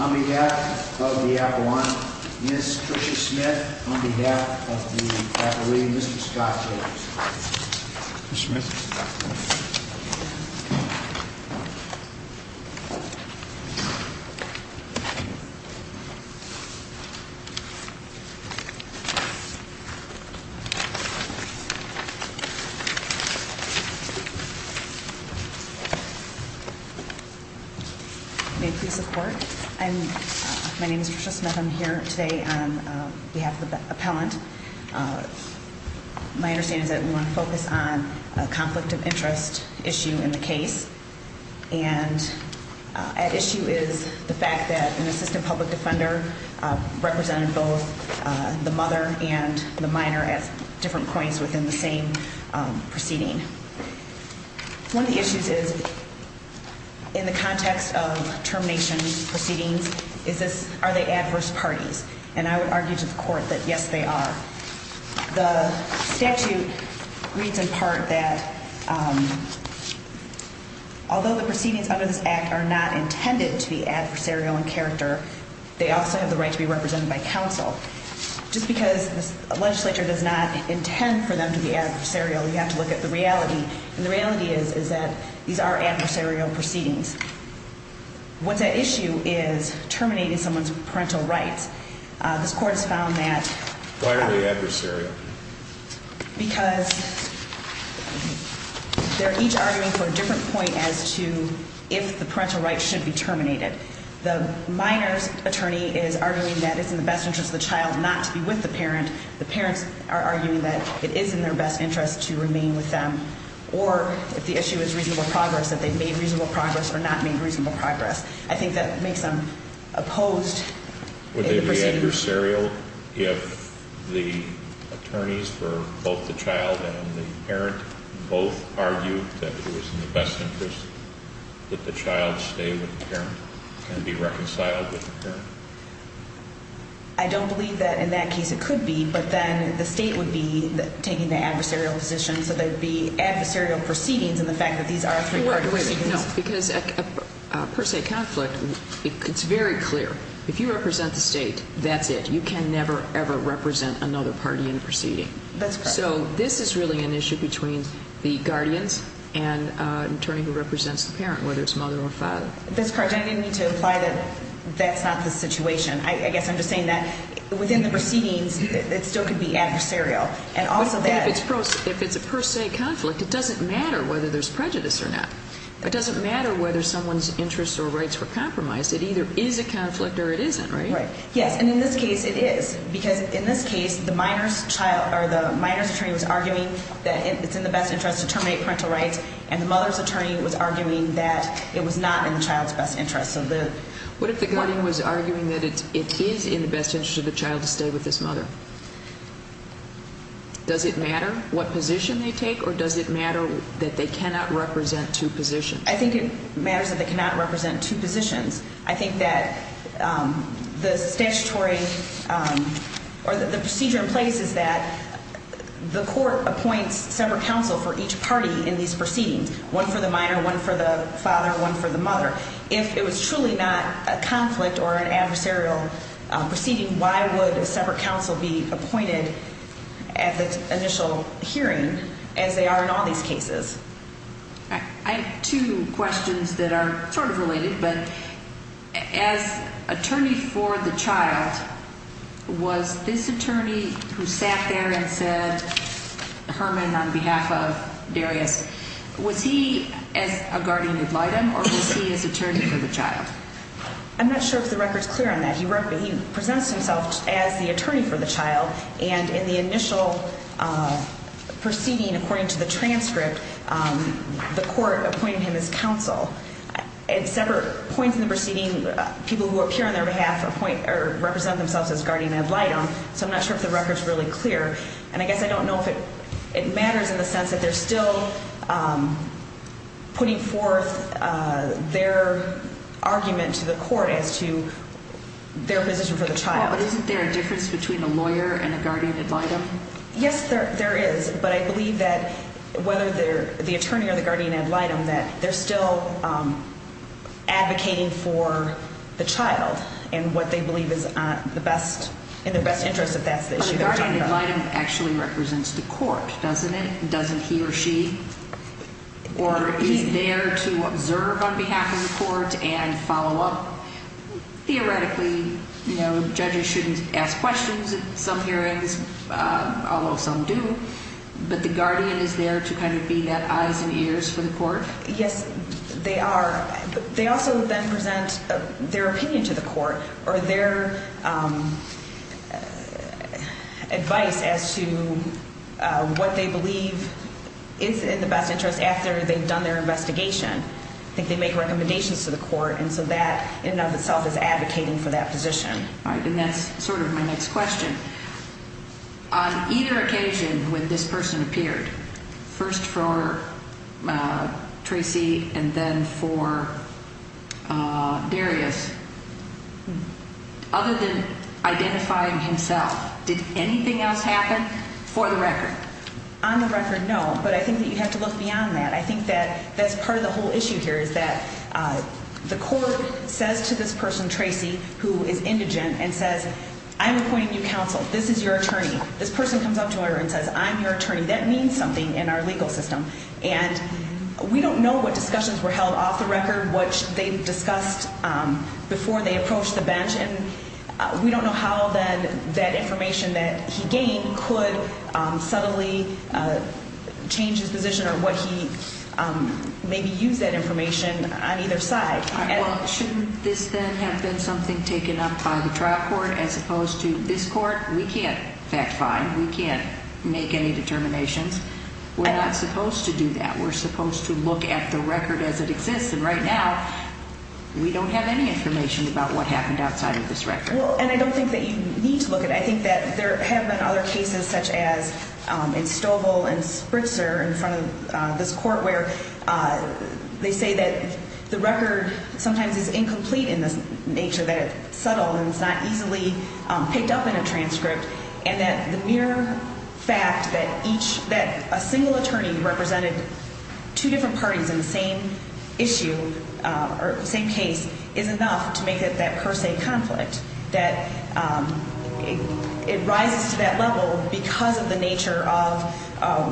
On behalf of the Aquiline, Ms. Tricia Smith, on behalf of the Aquiline, Mr. Scott Taylor. May I please have support? My name is Tricia Smith. I'm here today on behalf of the appellant. My understanding is that we want to focus on a conflict of interest issue in the case. And at issue is the fact that an assistant public defender represented both the mother and the minor at different points within the same proceeding. One of the issues is, in the context of termination proceedings, are they adverse parties? And I would argue to the court that yes, they are. The statute reads in part that although the proceedings under this act are not intended to be adversarial in character, they also have the right to be represented by counsel. Just because the legislature does not intend for them to be adversarial, you have to look at the reality. And the reality is that these are adversarial proceedings. What's at issue is terminating someone's parental rights. Why are they adversarial? Because they're each arguing for a different point as to if the parental rights should be terminated. The minor's attorney is arguing that it's in the best interest of the child not to be with the parent. And the parents are arguing that it is in their best interest to remain with them. Or, if the issue is reasonable progress, that they've made reasonable progress or not made reasonable progress. I think that makes them opposed in the proceedings. Would they be adversarial if the attorneys for both the child and the parent both argued that it was in the best interest that the child stay with the parent and be reconciled with the parent? I don't believe that in that case it could be, but then the state would be taking the adversarial position. So there would be adversarial proceedings in the fact that these are three-party proceedings. No, because per se conflict, it's very clear. If you represent the state, that's it. You can never, ever represent another party in a proceeding. That's correct. So this is really an issue between the guardians and an attorney who represents the parent, whether it's mother or father. That's correct. I didn't mean to imply that that's not the situation. I guess I'm just saying that within the proceedings, it still could be adversarial. But if it's a per se conflict, it doesn't matter whether there's prejudice or not. It doesn't matter whether someone's interests or rights were compromised. It either is a conflict or it isn't, right? Right. Yes. And in this case, it is. Because in this case, the minor's child or the minor's attorney was arguing that it's in the best interest to terminate parental rights, and the mother's attorney was arguing that it was not in the child's best interest. What if the guardian was arguing that it is in the best interest of the child to stay with this mother? Does it matter what position they take, or does it matter that they cannot represent two positions? I think it matters that they cannot represent two positions. I think that the statutory or the procedure in place is that the court appoints separate counsel for each party in these proceedings, one for the minor, one for the father, one for the mother. If it was truly not a conflict or an adversarial proceeding, why would a separate counsel be appointed at the initial hearing as they are in all these cases? I have two questions that are sort of related, but as attorney for the child, was this attorney who sat there and said, Herman, on behalf of Darius, was he as a guardian ad litem, or was he as attorney for the child? I'm not sure if the record's clear on that. He presents himself as the attorney for the child, and in the initial proceeding, according to the transcript, the court appointed him as counsel. At separate points in the proceeding, people who appear on their behalf represent themselves as guardian ad litem, so I'm not sure if the record's really clear. And I guess I don't know if it matters in the sense that they're still putting forth their argument to the court as to their position for the child. But isn't there a difference between a lawyer and a guardian ad litem? Yes, there is, but I believe that whether they're the attorney or the guardian ad litem, that they're still advocating for the child and what they believe is in their best interest if that's the issue they're talking about. But the guardian ad litem actually represents the court, doesn't it? Doesn't he or she? Or is there to observe on behalf of the court and follow up? Theoretically, you know, judges shouldn't ask questions at some hearings, although some do, but the guardian is there to kind of be that eyes and ears for the court? Yes, they are. They also then present their opinion to the court or their advice as to what they believe is in the best interest after they've done their investigation. I think they make recommendations to the court, and so that in and of itself is advocating for that position. All right, and that's sort of my next question. On either occasion when this person appeared, first for Tracy and then for Darius, other than identifying himself, did anything else happen for the record? On the record, no, but I think that you have to look beyond that. I think that that's part of the whole issue here is that the court says to this person, Tracy, who is indigent, and says, I'm appointing you counsel. This is your attorney. This person comes up to her and says, I'm your attorney. That means something in our legal system. And we don't know what discussions were held off the record, what they discussed before they approached the bench, and we don't know how that information that he gained could subtly change his position or what he maybe used that information on either side. Well, shouldn't this then have been something taken up by the trial court as opposed to this court? We can't fact find. We can't make any determinations. We're not supposed to do that. We're supposed to look at the record as it exists. And right now, we don't have any information about what happened outside of this record. And I don't think that you need to look at it. I think that there have been other cases such as in Stovall and Spritzer in front of this court where they say that the record sometimes is incomplete in this nature, that it's subtle and it's not easily picked up in a transcript, and that the mere fact that a single attorney represented two different parties in the same issue or the same case is enough to make that per se conflict, that it rises to that level because of the nature of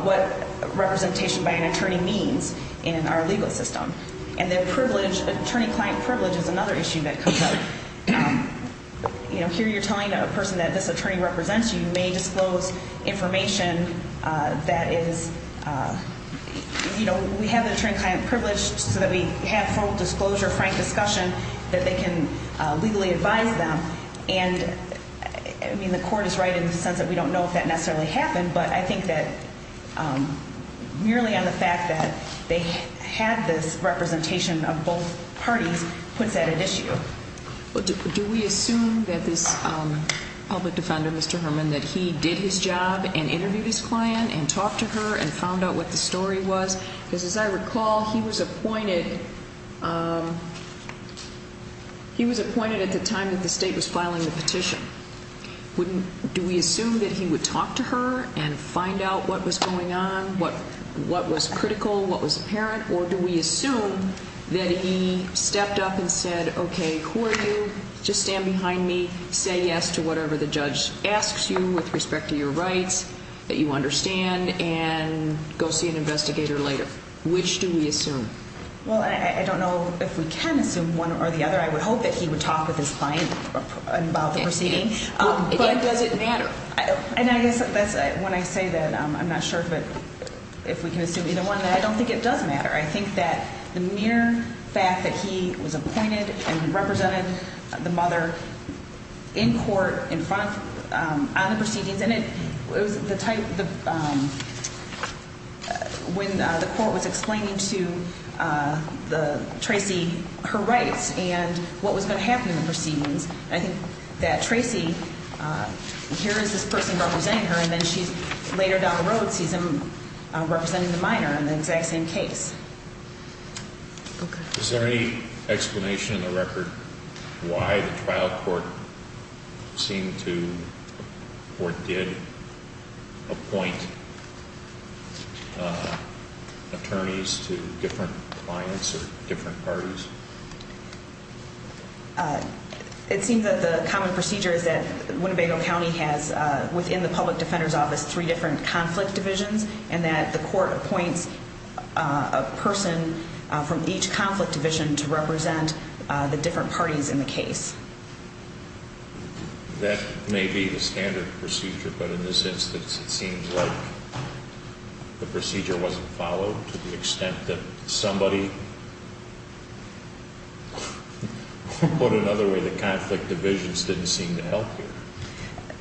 what representation by an attorney means in our legal system. And then privilege, attorney-client privilege, is another issue that comes up. Here you're telling a person that this attorney represents you. You may disclose information that is, you know, we have the attorney-client privilege so that we have full disclosure, frank discussion that they can legally advise them. And, I mean, the court is right in the sense that we don't know if that necessarily happened, but I think that merely on the fact that they had this representation of both parties puts that at issue. Do we assume that this public defender, Mr. Herman, that he did his job and interviewed his client and talked to her and found out what the story was? Because as I recall, he was appointed at the time that the state was filing the petition. Do we assume that he would talk to her and find out what was going on, what was critical, what was apparent, or do we assume that he stepped up and said, okay, who are you, just stand behind me, say yes to whatever the judge asks you with respect to your rights, that you understand, and go see an investigator later? Which do we assume? Well, I don't know if we can assume one or the other. I would hope that he would talk with his client about the proceeding. But does it matter? And I guess that's when I say that I'm not sure if we can assume either one. I don't think it does matter. I think that the mere fact that he was appointed and represented the mother in court on the proceedings, and it was the type when the court was explaining to Tracy her rights and what was going to happen in the proceedings, I think that Tracy, here is this person representing her, and then she later down the road sees him representing the minor in the exact same case. Is there any explanation in the record why the trial court seemed to or did appoint attorneys to different clients or different parties? It seems that the common procedure is that Winnebago County has within the public defender's office three different conflict divisions and that the court appoints a person from each conflict division to represent the different parties in the case. That may be the standard procedure, but in this instance, it seems like the procedure wasn't followed to the extent that somebody put it another way, the conflict divisions didn't seem to help here.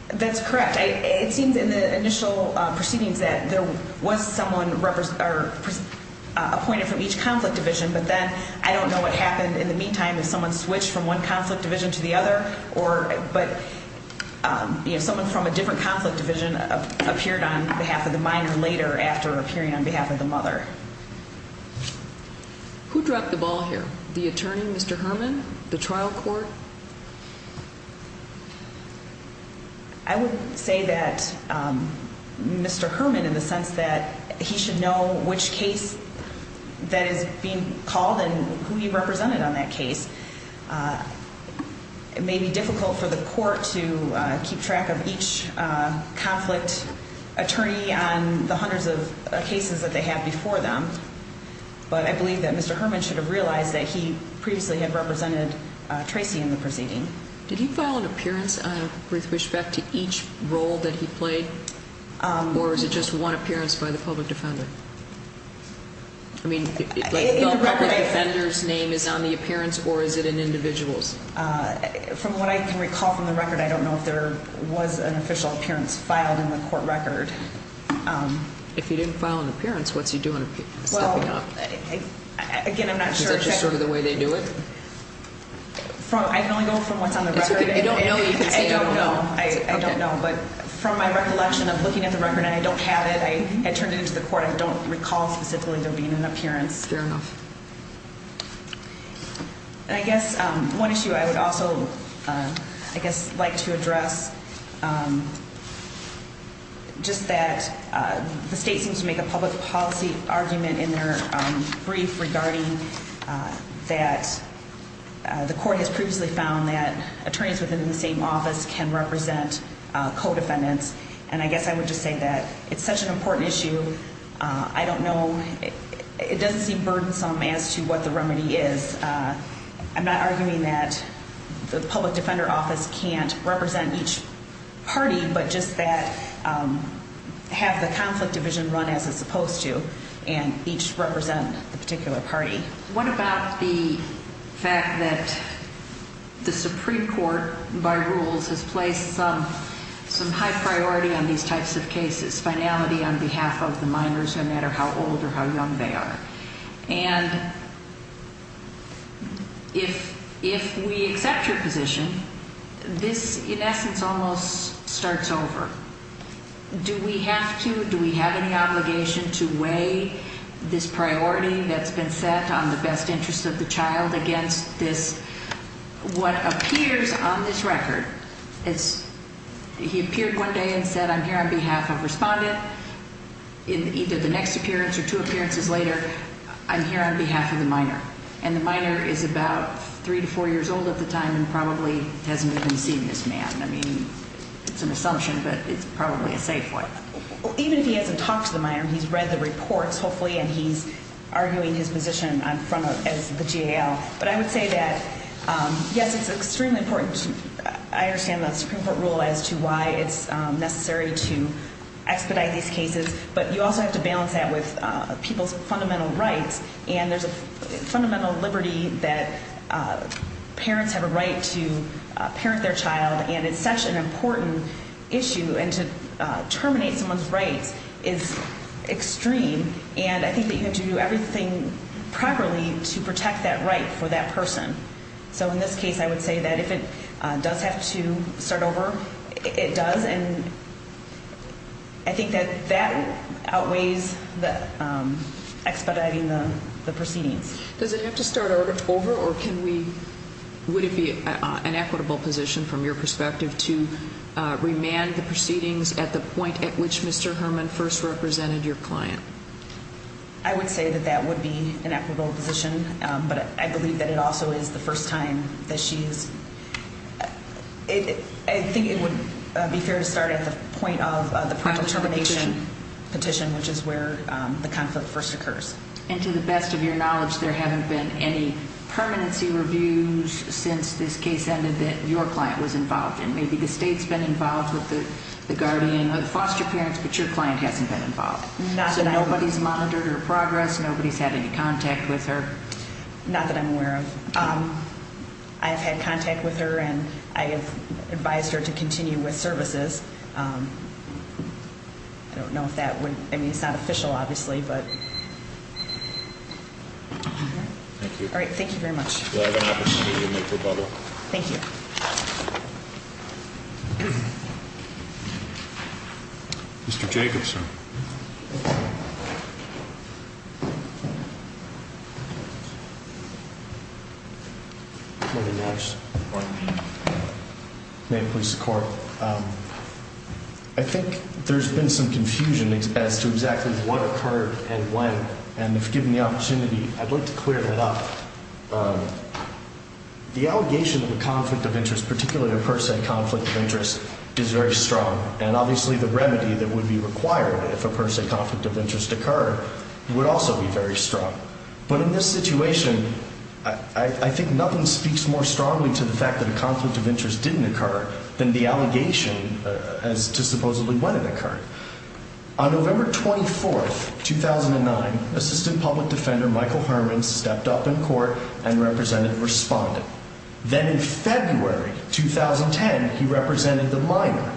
That's correct. It seems in the initial proceedings that there was someone appointed from each conflict division, but then I don't know what happened in the meantime. Someone switched from one conflict division to the other, but someone from a different conflict division appeared on behalf of the minor later after appearing on behalf of the mother. Who dropped the ball here? The attorney, Mr. Herman, the trial court? I would say that Mr. Herman, in the sense that he should know which case that is being called and who he represented on that case. It may be difficult for the court to keep track of each conflict attorney on the hundreds of cases that they have before them, but I believe that Mr. Herman should have realized that he previously had represented Tracy in the proceeding. Did he file an appearance with respect to each role that he played, or is it just one appearance by the public defender? I mean, the public defender's name is on the appearance, or is it an individual's? From what I can recall from the record, I don't know if there was an official appearance filed in the court record. If he didn't file an appearance, what's he doing, stepping up? Again, I'm not sure. Is that just sort of the way they do it? I can only go from what's on the record. It's okay. If you don't know, you can say you don't know. I don't know, but from my recollection of looking at the record, and I don't have it, I turned it into the court, I don't recall specifically there being an appearance. Fair enough. I guess one issue I would also like to address, just that the state seems to make a public policy argument in their brief regarding that the court has previously found that attorneys within the same office can represent co-defendants, and I guess I would just say that it's such an important issue. I don't know. It doesn't seem burdensome as to what the remedy is. I'm not arguing that the public defender office can't represent each party, but just that have the conflict division run as it's supposed to and each represent the particular party. What about the fact that the Supreme Court, by rules, has placed some high priority on these types of cases, finality on behalf of the minors, no matter how old or how young they are, and if we accept your position, this, in essence, almost starts over. Do we have to, do we have any obligation to weigh this priority that's been set on the best interest of the child against this, what appears on this record? He appeared one day and said, I'm here on behalf of Respondent. In either the next appearance or two appearances later, I'm here on behalf of the minor, and the minor is about three to four years old at the time and probably hasn't even seen this man. I mean, it's an assumption, but it's probably a safe one. Even if he hasn't talked to the minor, he's read the reports, hopefully, and he's arguing his position as the GAL, but I would say that, yes, it's extremely important. I understand the Supreme Court rule as to why it's necessary to expedite these cases, but you also have to balance that with people's fundamental rights, and there's a fundamental liberty that parents have a right to parent their child, and it's such an important issue, and to terminate someone's rights is extreme, and I think that you have to do everything properly to protect that right for that person. So in this case, I would say that if it does have to start over, it does, and I think that that outweighs expediting the proceedings. Does it have to start over, or would it be an equitable position from your perspective to remand the proceedings at the point at which Mr. Herman first represented your client? I would say that that would be an equitable position, but I believe that it also is the first time that she's – I think it would be fair to start at the point of the prior termination petition, which is where the conflict first occurs. And to the best of your knowledge, there haven't been any permanency reviews since this case ended that your client was involved in. Maybe the state's been involved with the guardian or the foster parents, but your client hasn't been involved. So nobody's monitored her progress, nobody's had any contact with her? Not that I'm aware of. I have had contact with her, and I have advised her to continue with services. I don't know if that would – I mean, it's not official, obviously, but – Thank you. All right, thank you very much. You'll have an opportunity to make a rebuttal. Thank you. Mr. Jacobson. Good morning, Your Honor. Good morning. May it please the Court. I think there's been some confusion as to exactly what occurred and when, and if given the opportunity, I'd like to clear that up. The allegation of a conflict of interest, particularly a per se conflict of interest, is very strong, and obviously the remedy that would be required if a per se conflict of interest occurred would also be very strong. But in this situation, I think nothing speaks more strongly to the fact that a conflict of interest didn't occur than the allegation as to supposedly when it occurred. On November 24, 2009, Assistant Public Defender Michael Herman stepped up in court and represented Respondent. Then in February 2010, he represented the minor.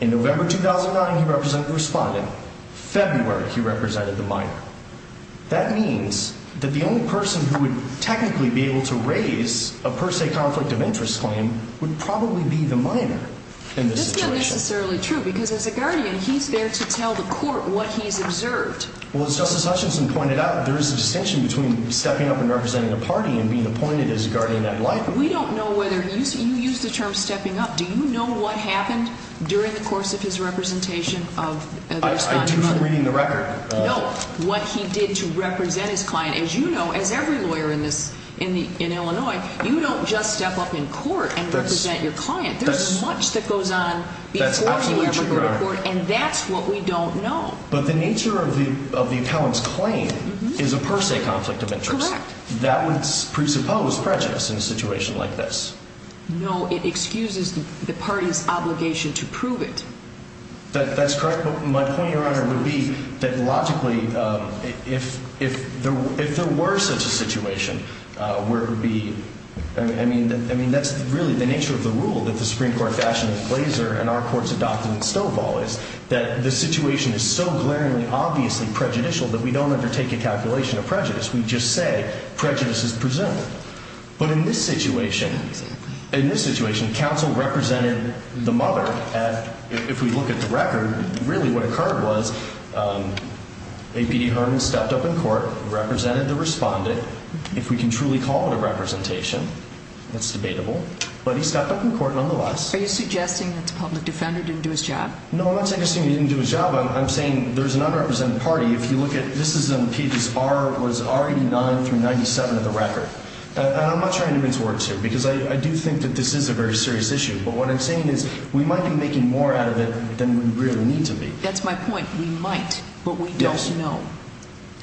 In November 2009, he represented Respondent. February, he represented the minor. That means that the only person who would technically be able to raise a per se conflict of interest claim would probably be the minor in this situation. That's not necessarily true, because as a guardian, he's there to tell the court what he's observed. Well, as Justice Hutchinson pointed out, there is a distinction between stepping up and representing a party and being appointed as a guardian at law. We don't know whether he used the term stepping up. Do you know what happened during the course of his representation of Respondent? I do from reading the record. No, what he did to represent his client. As you know, as every lawyer in Illinois, you don't just step up in court and represent your client. There's much that goes on before he ever goes to court, and that's what we don't know. But the nature of the appellant's claim is a per se conflict of interest. Correct. That would presuppose prejudice in a situation like this. No, it excuses the party's obligation to prove it. That's correct, but my point, Your Honor, would be that logically, if there were such a situation, I mean, that's really the nature of the rule that the Supreme Court fashioned with Glazer and our courts adopted in Stovall is that the situation is so glaringly obviously prejudicial that we don't undertake a calculation of prejudice. We just say prejudice is presumed. But in this situation, counsel represented the mother. If we look at the record, really what occurred was A.P.D. Harmon stepped up in court, represented the respondent. If we can truly call it a representation, that's debatable. But he stepped up in court nonetheless. Are you suggesting that the public defender didn't do his job? No, I'm not suggesting he didn't do his job. I'm saying there's an unrepresented party. If you look at, this is in pages R, it was R89 through 97 of the record. And I'm not trying to convince words here because I do think that this is a very serious issue. But what I'm saying is we might be making more out of it than we really need to be. That's my point. We might, but we don't know.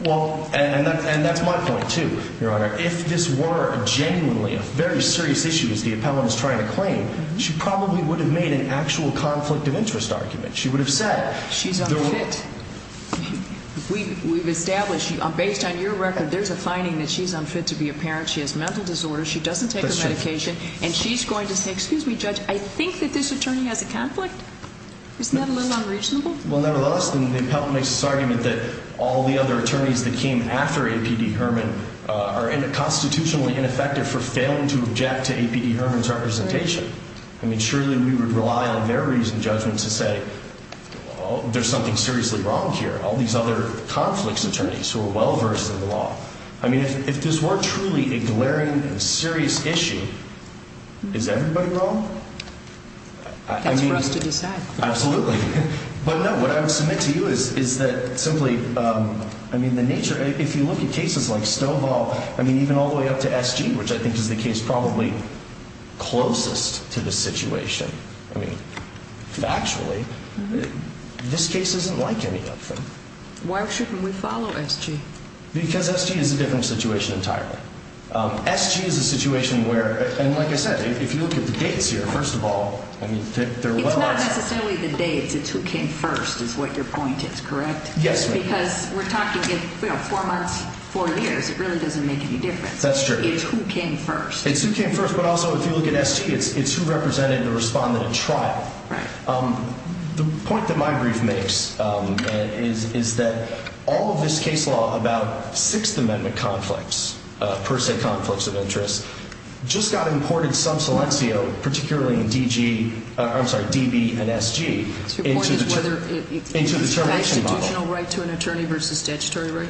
Well, and that's my point too, Your Honor. If this were genuinely a very serious issue, as the appellant is trying to claim, she probably would have made an actual conflict of interest argument. She would have said. She's unfit. We've established, based on your record, there's a finding that she's unfit to be a parent. She has mental disorders. She doesn't take her medication. And she's going to say, excuse me, Judge, I think that this attorney has a conflict. Isn't that a little unreasonable? Well, nevertheless, the appellant makes this argument that all the other attorneys that came after A.P.D. Herman are constitutionally ineffective for failing to object to A.P.D. Herman's representation. I mean, surely we would rely on their reasoned judgment to say there's something seriously wrong here. All these other conflicts attorneys who are well versed in the law. I mean, if this were truly a glaring and serious issue, is everybody wrong? That's for us to decide. Absolutely. But, no, what I would submit to you is that simply, I mean, the nature, if you look at cases like Stovall, I mean, even all the way up to S.G., which I think is the case probably closest to the situation, I mean, factually, this case isn't like any other. Why shouldn't we follow S.G.? Because S.G. is a different situation entirely. S.G. is a situation where, and like I said, if you look at the dates here, first of all, I mean, It's not necessarily the dates. It's who came first is what your point is, correct? Yes, ma'am. Because we're talking, you know, four months, four years. It really doesn't make any difference. That's true. It's who came first. It's who came first, but also if you look at S.G., it's who represented and responded in trial. Right. The point that my brief makes is that all of this case law about Sixth Amendment conflicts, per se conflicts of interest, just got imported sub-selencio, particularly in D.G. I'm sorry, D.B. and S.G. Your point is whether it's a constitutional right to an attorney versus statutory right?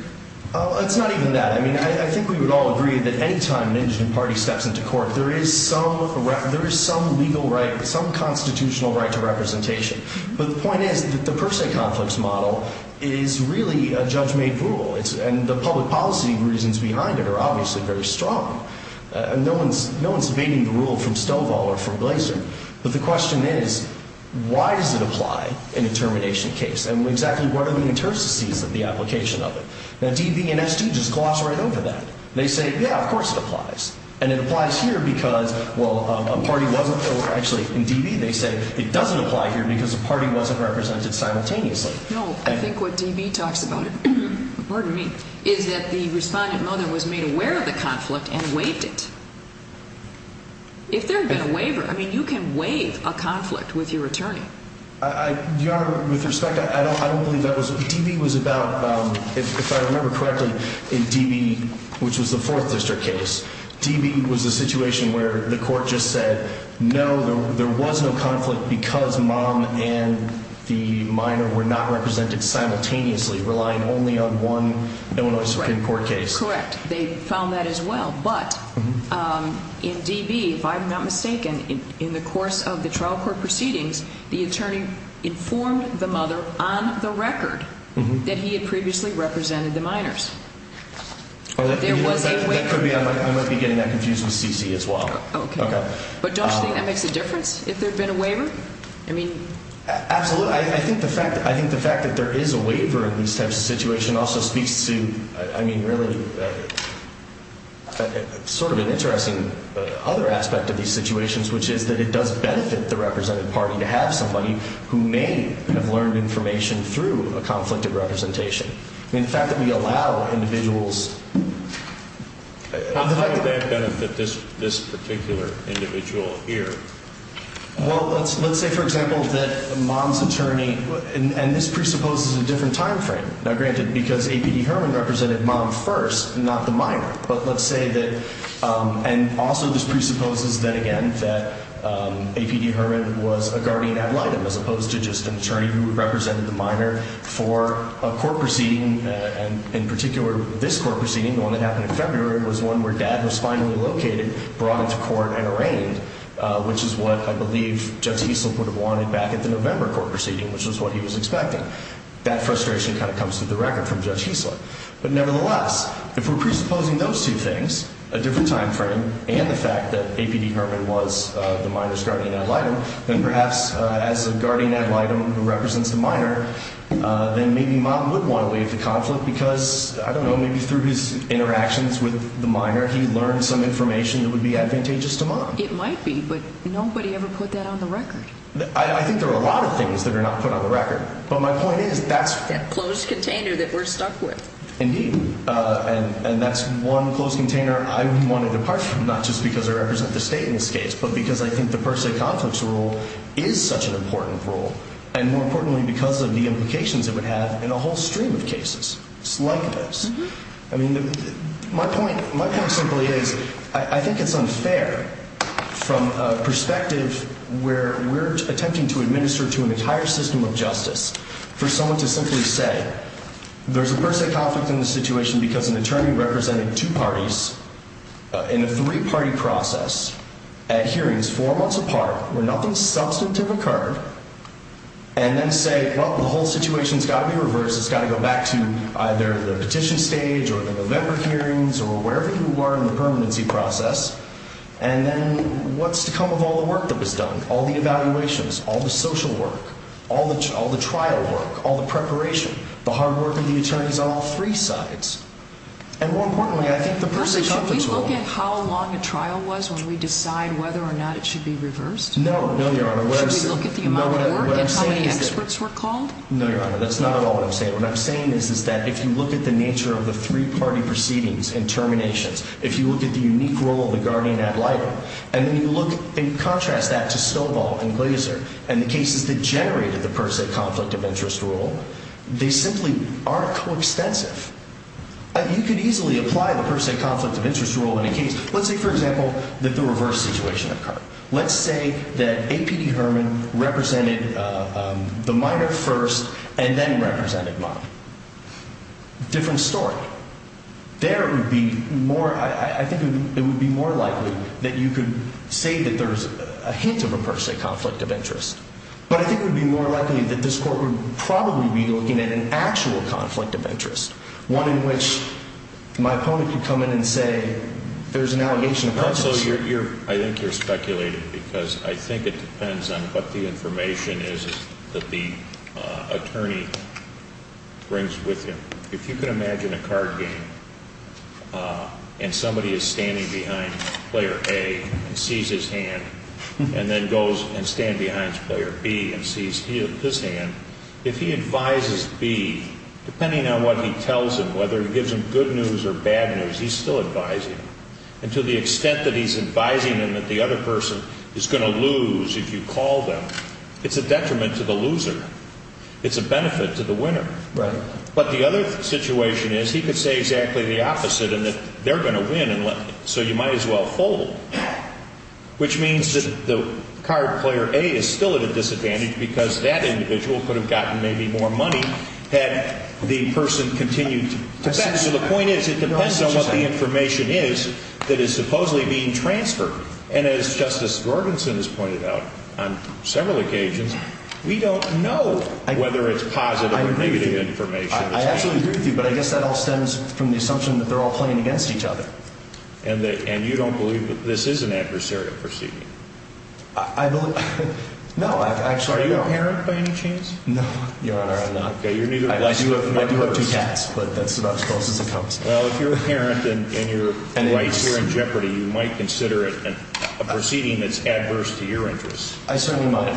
It's not even that. I mean, I think we would all agree that any time an indigent party steps into court, there is some legal right, some constitutional right to representation. But the point is that the per se conflicts model is really a judge-made rule, and the public policy reasons behind it are obviously very strong. No one is debating the rule from Stovall or from Glaser. But the question is, why does it apply in a termination case? And exactly what are the interstices of the application of it? Now, D.B. and S.G. just gloss right over that. They say, yeah, of course it applies. And it applies here because, well, a party wasn't actually in D.B. They say it doesn't apply here because a party wasn't represented simultaneously. No, I think what D.B. talks about it, pardon me, is that the respondent mother was made aware of the conflict and waived it. If there had been a waiver, I mean, you can waive a conflict with your attorney. Your Honor, with respect, I don't believe that was – D.B. was about, if I remember correctly, in D.B., which was the Fourth District case, D.B. was a situation where the court just said, no, there was no conflict because Mom and the minor were not represented simultaneously, relying only on one Illinois Supreme Court case. Correct. They found that as well. But in D.B., if I'm not mistaken, in the course of the trial court proceedings, the attorney informed the mother on the record that he had previously represented the minors. That could be – I might be getting that confused with C.C. as well. Okay. But don't you think that makes a difference if there had been a waiver? I mean – Absolutely. I think the fact that there is a waiver in these types of situations also speaks to, I mean, really sort of an interesting other aspect of these situations, which is that it does benefit the represented party to have somebody who may have learned information through a conflict of representation. I mean, the fact that we allow individuals – How would that benefit this particular individual here? Well, let's say, for example, that Mom's attorney – and this presupposes a different time frame. Now, granted, because A.P.D. Herman represented Mom first, not the minor. But let's say that – and also this presupposes that, again, that A.P.D. Herman was a guardian ad litem as opposed to just an attorney who represented the minor. For a court proceeding, and in particular this court proceeding, the one that happened in February, was one where Dad was finally located, brought into court, and arraigned, which is what I believe Judge Heisler would have wanted back at the November court proceeding, which is what he was expecting. That frustration kind of comes to the record from Judge Heisler. But nevertheless, if we're presupposing those two things, a different time frame, and the fact that A.P.D. Herman was the minor's guardian ad litem, then perhaps as a guardian ad litem who represents the minor, then maybe Mom would want to waive the conflict because, I don't know, maybe through his interactions with the minor, he learned some information that would be advantageous to Mom. It might be, but nobody ever put that on the record. I think there are a lot of things that are not put on the record. But my point is, that's – That closed container that we're stuck with. Indeed. And that's one closed container I would want to depart from, not just because I represent the state in this case, but because I think the per se conflicts rule is such an important rule, and more importantly because of the implications it would have in a whole stream of cases like this. I mean, my point simply is, I think it's unfair from a perspective where we're attempting to administer to an entire system of justice for someone to simply say there's a per se conflict in this situation because an attorney represented two parties in a three-party process at hearings four months apart where nothing substantive occurred, and then say, well, the whole situation's got to be reversed. It's got to go back to either the petition stage or the November hearings or wherever you are in the permanency process. And then what's to come of all the work that was done, all the evaluations, all the social work, all the trial work, all the preparation, the hard work of the attorneys on all three sides? And more importantly, I think the per se conflicts rule – First, should we look at how long a trial was when we decide whether or not it should be reversed? No, no, Your Honor. Should we look at the amount of work and how many experts were called? No, Your Honor. That's not at all what I'm saying. What I'm saying is that if you look at the nature of the three-party proceedings and terminations, if you look at the unique role of the guardian ad litem, and then you look and contrast that to Stovall and Glaser and the cases that generated the per se conflict of interest rule, they simply aren't coextensive. You could easily apply the per se conflict of interest rule in a case. Let's say, for example, that the reverse situation occurred. Let's say that A.P.D. Herman represented the minor first and then represented mine. Different story. There it would be more – I think it would be more likely that you could say that there's a hint of a per se conflict of interest. But I think it would be more likely that this court would probably be looking at an actual conflict of interest, one in which my opponent could come in and say there's an allegation of prejudice. Also, I think you're speculating because I think it depends on what the information is that the attorney brings with him. If you can imagine a card game and somebody is standing behind player A and sees his hand and then goes and stands behind player B and sees his hand, if he advises B, depending on what he tells him, whether he gives him good news or bad news, he's still advising him. And to the extent that he's advising him that the other person is going to lose if you call them, it's a detriment to the loser. It's a benefit to the winner. But the other situation is he could say exactly the opposite and that they're going to win, so you might as well fold, which means that the card player A is still at a disadvantage because that individual could have gotten maybe more money had the person continued to bet. So the point is it depends on what the information is that is supposedly being transferred. And as Justice Gorganson has pointed out on several occasions, we don't know whether it's positive or negative information. I absolutely agree with you, but I guess that all stems from the assumption that they're all playing against each other. And you don't believe that this is an adversarial proceeding? No, I actually don't. Are you a parent by any chance? No, Your Honor, I'm not. I do have two cats, but that's about as close as it comes. Well, if you're a parent and your wife's here in jeopardy, you might consider it a proceeding that's adverse to your interests. I certainly might.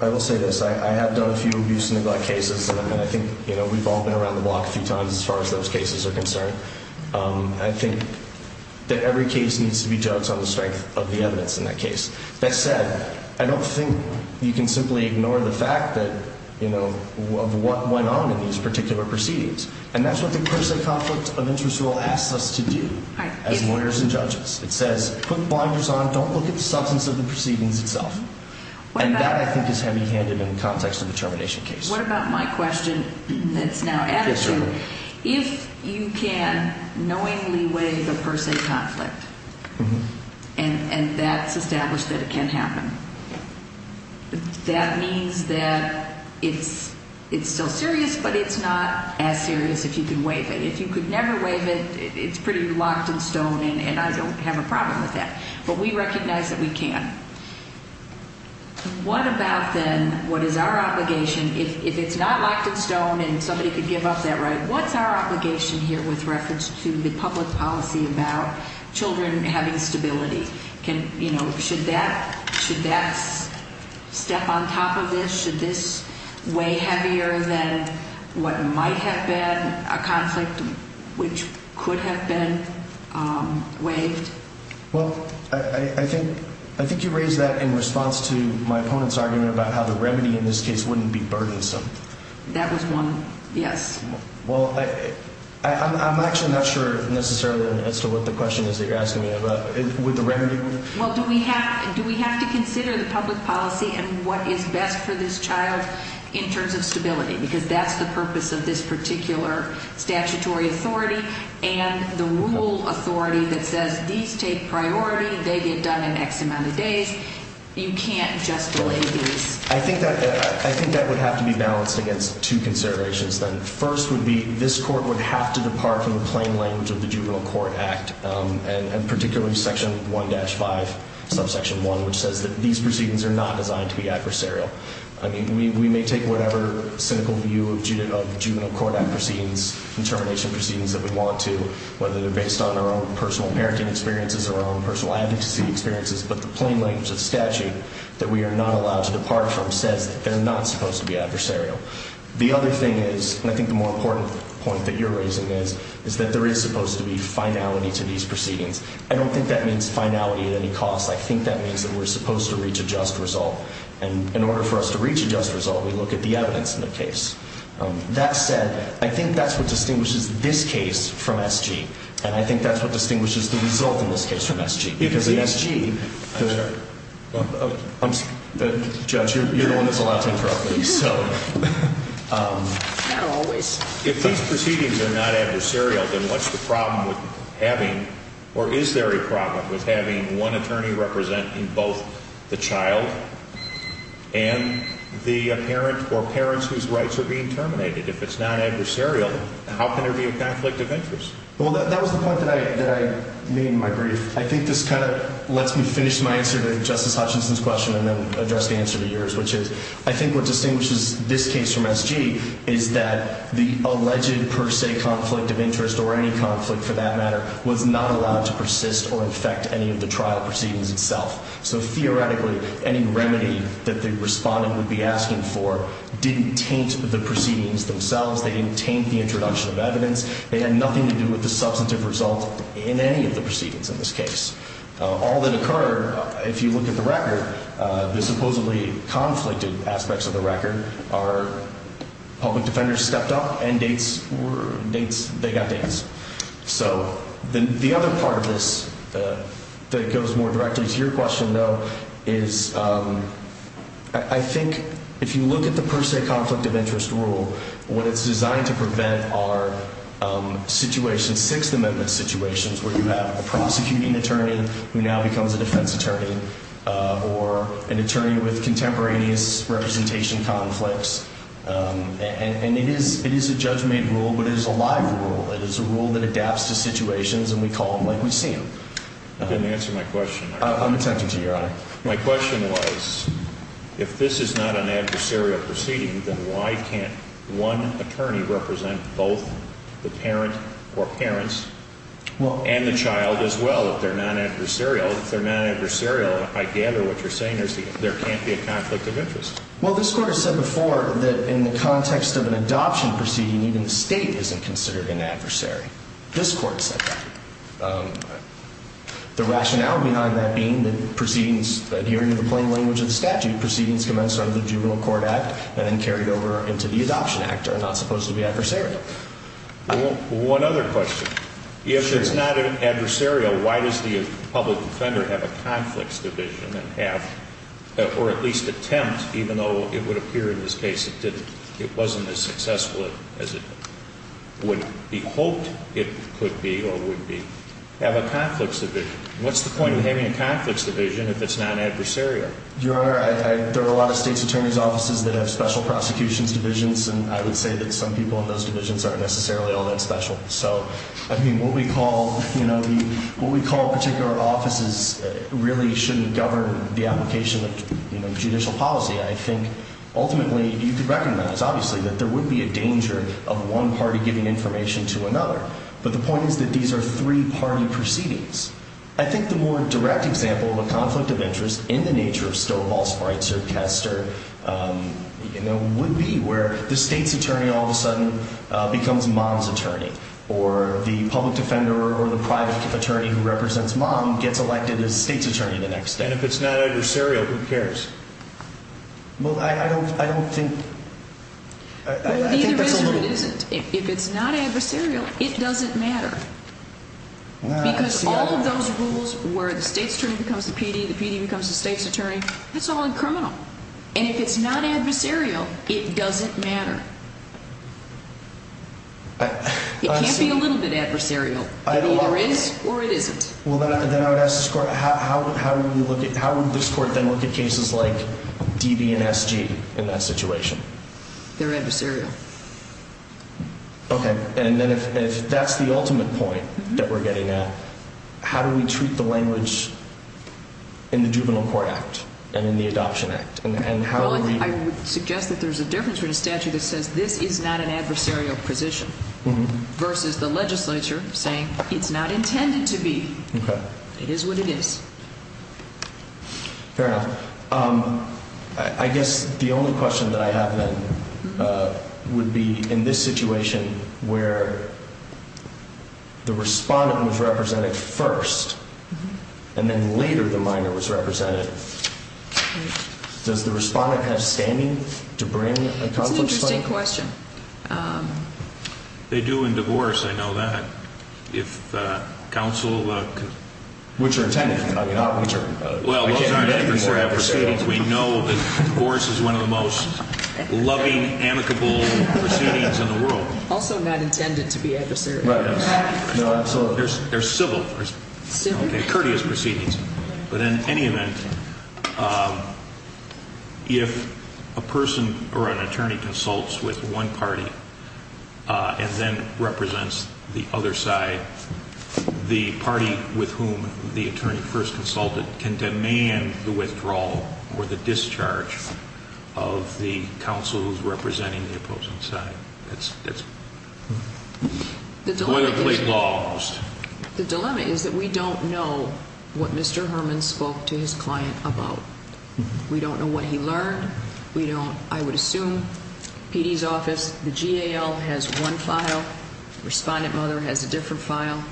I will say this. I have done a few abuse and neglect cases, and I think we've all been around the block a few times as far as those cases are concerned. I think that every case needs to be judged on the strength of the evidence in that case. That said, I don't think you can simply ignore the fact that, you know, of what went on in these particular proceedings. And that's what the per se conflict of interest rule asks us to do as lawyers and judges. It says put blinders on, don't look at the substance of the proceedings itself. And that, I think, is heavy-handed in the context of a termination case. What about my question that's now added to it? Yes, Your Honor. If you can knowingly waive a per se conflict, and that's established that it can happen, that means that it's still serious, but it's not as serious if you can waive it. If you could never waive it, it's pretty locked in stone, and I don't have a problem with that. But we recognize that we can. What about, then, what is our obligation? If it's not locked in stone and somebody could give up that right, what's our obligation here with reference to the public policy about children having stability? Should that step on top of this? Should this weigh heavier than what might have been a conflict which could have been waived? Well, I think you raised that in response to my opponent's argument about how the remedy in this case wouldn't be burdensome. That was one, yes. Well, I'm actually not sure necessarily as to what the question is that you're asking me about. Would the remedy work? Well, do we have to consider the public policy and what is best for this child in terms of stability? Because that's the purpose of this particular statutory authority and the rule authority that says these take priority, they get done in X amount of days. You can't just delay these. I think that would have to be balanced against two considerations, then. First would be this court would have to depart from the plain language of the Juvenile Court Act, and particularly Section 1-5, Subsection 1, which says that these proceedings are not designed to be adversarial. I mean, we may take whatever cynical view of Juvenile Court Act proceedings and termination proceedings that we want to, whether they're based on our own personal parenting experiences or our own personal advocacy experiences, but the plain language of the statute that we are not allowed to depart from says that they're not supposed to be adversarial. The other thing is, and I think the more important point that you're raising is, is that there is supposed to be finality to these proceedings. I don't think that means finality at any cost. I think that means that we're supposed to reach a just result. And in order for us to reach a just result, we look at the evidence in the case. That said, I think that's what distinguishes this case from S.G., and I think that's what distinguishes the result in this case from S.G. Because in S.G. I'm sorry. Judge, you're the one that's allowed to interrupt me, so. Not always. If these proceedings are not adversarial, then what's the problem with having, or is there a problem with having one attorney representing both the child and the parent or parents whose rights are being terminated? If it's not adversarial, how can there be a conflict of interest? Well, that was the point that I made in my brief. I think this kind of lets me finish my answer to Justice Hutchinson's question and then address the answer to yours, which is I think what distinguishes this case from S.G. is that the alleged per se conflict of interest, or any conflict for that matter, was not allowed to persist or infect any of the trial proceedings itself. So theoretically, any remedy that the respondent would be asking for didn't taint the proceedings themselves. They didn't taint the introduction of evidence. It had nothing to do with the substantive result in any of the proceedings in this case. All that occurred, if you look at the record, the supposedly conflicted aspects of the record, are public defenders stepped up and they got dates. So the other part of this that goes more directly to your question, though, is I think if you look at the per se conflict of interest rule, what it's designed to prevent are situations, Sixth Amendment situations, where you have a prosecuting attorney who now becomes a defense attorney or an attorney with contemporaneous representation conflicts. And it is a judge-made rule, but it is a live rule. It is a rule that adapts to situations, and we call them like we see them. You didn't answer my question. I'm attentive to you, Your Honor. My question was if this is not an adversarial proceeding, then why can't one attorney represent both the parent or parents and the child as well if they're not adversarial? If they're not adversarial, I gather what you're saying is there can't be a conflict of interest. Well, this Court has said before that in the context of an adoption proceeding, even the State isn't considered an adversary. This Court said that. The rationale behind that being that proceedings, adhering to the plain language of the statute, proceedings commenced under the Juvenile Court Act and then carried over into the Adoption Act are not supposed to be adversarial. Well, one other question. If it's not adversarial, why does the public defender have a conflicts division and have or at least attempt, even though it would appear in this case it didn't, it wasn't as successful as it would be hoped it could be or would be, have a conflicts division? What's the point of having a conflicts division if it's not adversarial? Your Honor, there are a lot of State's attorney's offices that have special prosecutions divisions, and I would say that some people in those divisions aren't necessarily all that special. So, I mean, what we call particular offices really shouldn't govern the application of judicial policy. I think, ultimately, you could recognize, obviously, that there would be a danger of one party giving information to another. But the point is that these are three-party proceedings. I think the more direct example of a conflict of interest in the nature of Stovall, Spreitzer, Kester, you know, would be where the State's attorney all of a sudden becomes Mom's attorney, or the public defender or the private attorney who represents Mom gets elected as State's attorney the next day. And if it's not adversarial, who cares? Well, I don't think... Well, it either is or it isn't. If it's not adversarial, it doesn't matter. Because all of those rules where the State's attorney becomes the PD, the PD becomes the State's attorney, that's all in criminal. And if it's not adversarial, it doesn't matter. It can't be a little bit adversarial. It either is or it isn't. Well, then I would ask this Court, how would this Court then look at cases like DB and SG in that situation? They're adversarial. Okay. And then if that's the ultimate point that we're getting at, how do we treat the language in the Juvenile Court Act and in the Adoption Act? Well, I would suggest that there's a difference between a statute that says this is not an adversarial position versus the legislature saying it's not intended to be. Okay. It is what it is. Fair enough. I guess the only question that I have then would be in this situation where the respondent was represented first and then later the minor was represented, does the respondent have standing to bring a conflict claim? Same question. They do in divorce, I know that. If counsel could... Which are intended, not which are... Well, those aren't adversarial proceedings. We know that divorce is one of the most loving, amicable proceedings in the world. Also not intended to be adversarial. Right. No, absolutely. They're civil. Civil. They're courteous proceedings. But in any event, if a person or an attorney consults with one party and then represents the other side, the party with whom the attorney first consulted can demand the withdrawal or the discharge of the counsel who's representing the opposing side. That's boilerplate law almost. The dilemma is that we don't know what Mr. Herman spoke to his client about. We don't know what he learned. We don't, I would assume, PD's office, the GAL has one file, respondent mother has a different file.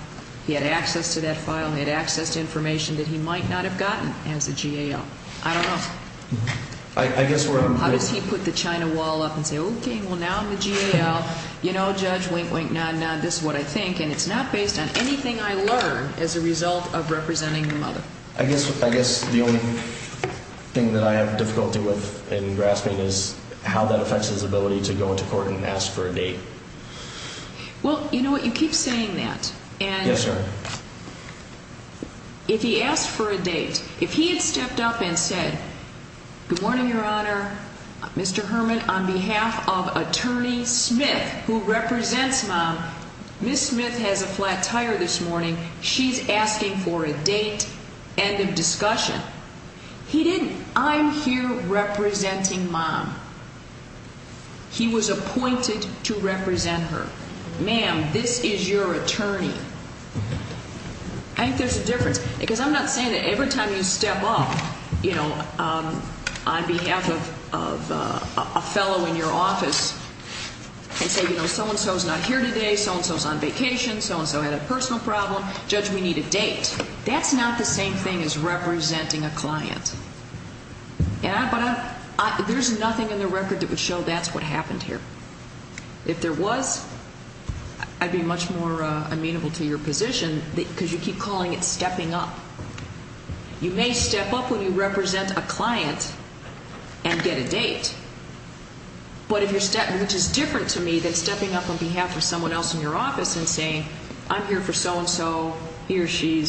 He had access to that file and had access to information that he might not have gotten as a GAL. I don't know. I guess we're... How does he put the China wall up and say, okay, well, now I'm the GAL, you know, judge, wink, wink, nah, nah, this is what I think. And it's not based on anything I learned as a result of representing the mother. I guess the only thing that I have difficulty with in grasping is how that affects his ability to go into court and ask for a date. Well, you know what, you keep saying that. Yes, sir. If he asked for a date, if he had stepped up and said, good morning, Your Honor, Mr. Herman, on behalf of Attorney Smith, who represents mom, Ms. Smith has a flat tire this morning. She's asking for a date, end of discussion. He didn't. I'm here representing mom. He was appointed to represent her. Ma'am, this is your attorney. I think there's a difference. Because I'm not saying that every time you step up, you know, on behalf of a fellow in your office and say, you know, so-and-so's not here today, so-and-so's on vacation, so-and-so had a personal problem, judge, we need a date. That's not the same thing as representing a client. But there's nothing in the record that would show that's what happened here. If there was, I'd be much more amenable to your position because you keep calling it stepping up. You may step up when you represent a client and get a date, but if you're stepping up, which is different to me than stepping up on behalf of someone else in your office and saying, I'm here for so-and-so, he or she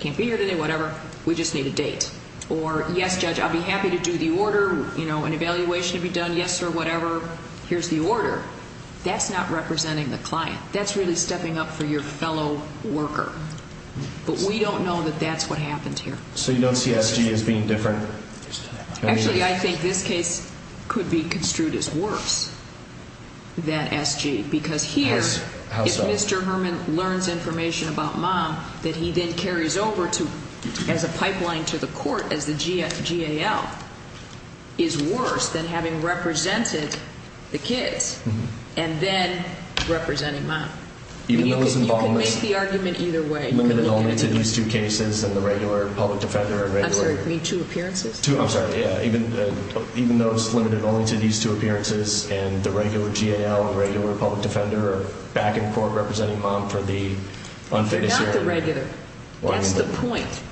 can't be here today, whatever, we just need a date. Or, yes, judge, I'd be happy to do the order, you know, an evaluation to be done, yes, sir, whatever, here's the order. That's not representing the client. That's really stepping up for your fellow worker. But we don't know that that's what happened here. So you don't see SG as being different? Actually, I think this case could be construed as worse than SG. Because here, if Mr. Herman learns information about mom, that he then carries over as a pipeline to the court as the GAL, is worse than having represented the kids and then representing mom. You can make the argument either way. Limited only to these two cases and the regular public defender and regular. I'm sorry, you mean two appearances? Two, I'm sorry, yeah, even though it's limited only to these two appearances and the regular GAL, regular public defender, back in court representing mom for the unfitness hearing. If you're not the regular, that's the point.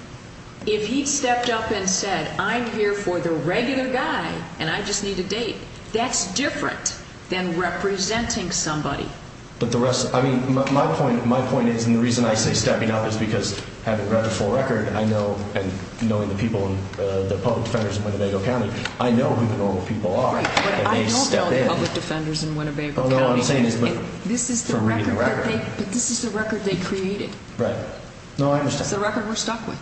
If he stepped up and said, I'm here for the regular guy and I just need a date, that's different than representing somebody. But the rest, I mean, my point is, and the reason I say stepping up is because having read the full record, I know, and knowing the people, the public defenders in Winnebago County, I know who the normal people are. But I don't know the public defenders in Winnebago County. This is the record they created. Right. It's the record we're stuck with.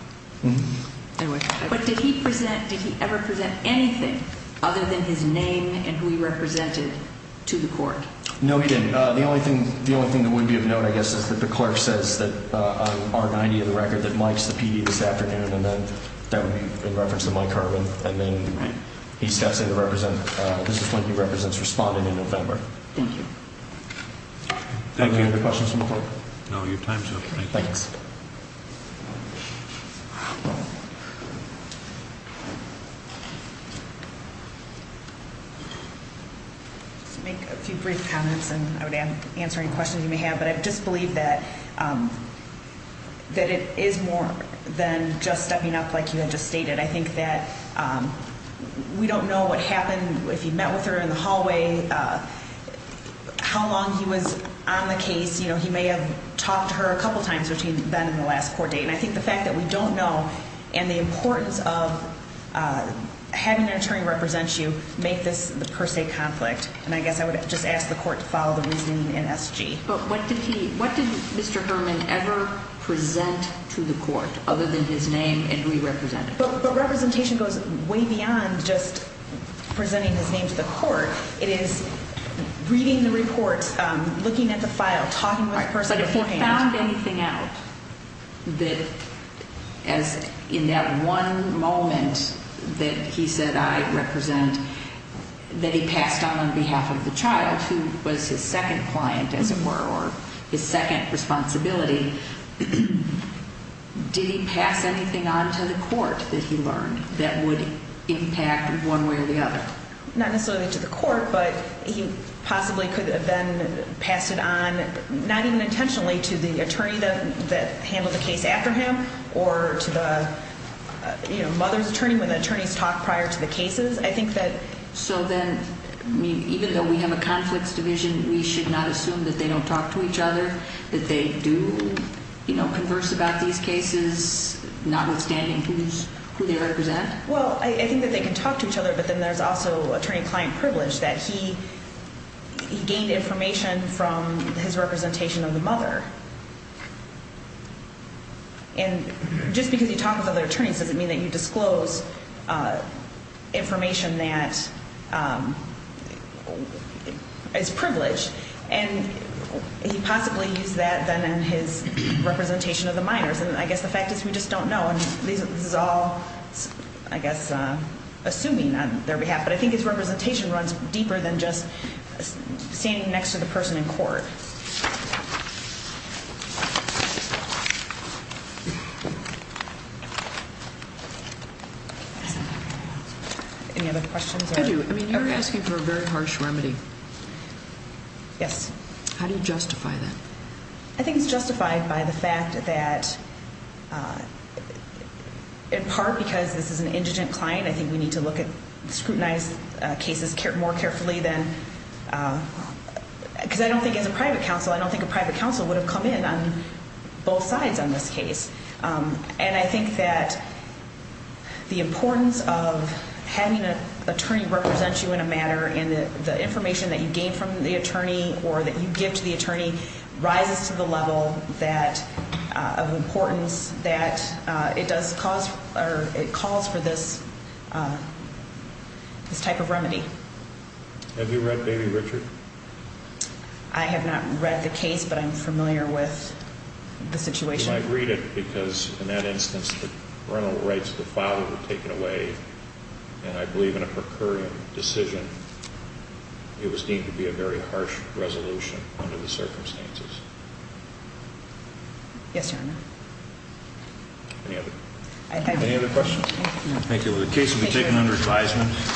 But did he present, did he ever present anything other than his name and who he represented to the court? No, he didn't. The only thing that would be of note, I guess, is that the clerk says that on R-90 of the record that Mike's the PD this afternoon, and that would be in reference to Mike Herman, and then he steps in to represent, this is when he represents responding in November. Thank you. Any other questions from the court? No, your time's up. Thanks. Just to make a few brief comments, and I would answer any questions you may have, but I just believe that it is more than just stepping up like you had just stated. I think that we don't know what happened, if he met with her in the hallway, how long he was on the case. You know, he may have talked to her a couple of times between the meetings, and I think the fact that we don't know and the importance of having an attorney represent you make this the per se conflict, and I guess I would just ask the court to follow the reasoning in SG. But what did he, what did Mr. Herman ever present to the court other than his name and who he represented? But representation goes way beyond just presenting his name to the court. It is reading the report, looking at the file, talking with the person beforehand. If he found anything out that, as in that one moment that he said, I represent, that he passed on on behalf of the child, who was his second client, as it were, or his second responsibility, did he pass anything on to the court that he learned that would impact one way or the other? Not necessarily to the court, but he possibly could have then passed it on, not even intentionally, to the attorney that handled the case after him, or to the mother's attorney when the attorneys talked prior to the cases. I think that... So then, even though we have a conflicts division, we should not assume that they don't talk to each other, that they do, you know, converse about these cases, notwithstanding who they represent? Well, I think that they can talk to each other, but then there's also attorney-client privilege, that he gained information from his representation of the mother. And just because you talk with other attorneys doesn't mean that you disclose information that is privileged. And he possibly used that, then, in his representation of the minors. And I guess the fact is we just don't know, and this is all, I guess, assuming on their behalf. But I think his representation runs deeper than just standing next to the person in court. Any other questions? I do. I mean, you're asking for a very harsh remedy. Yes. How do you justify that? I think it's justified by the fact that, in part because this is an indigent client, I think we need to look at scrutinized cases more carefully than... Because I don't think as a private counsel, I don't think a private counsel would have come in on both sides on this case. And I think that the importance of having an attorney represent you in a matter and the information that you gain from the attorney or that you give to the attorney rises to the level of importance that it does cause or it calls for this type of remedy. Have you read Baby Richard? I have not read the case, but I'm familiar with the situation. I read it because, in that instance, the parental rights of the father were taken away, and I believe in a per curiam decision it was deemed to be a very harsh resolution under the circumstances. Yes, Your Honor. Any other questions? Thank you. The case will be taken under advisement.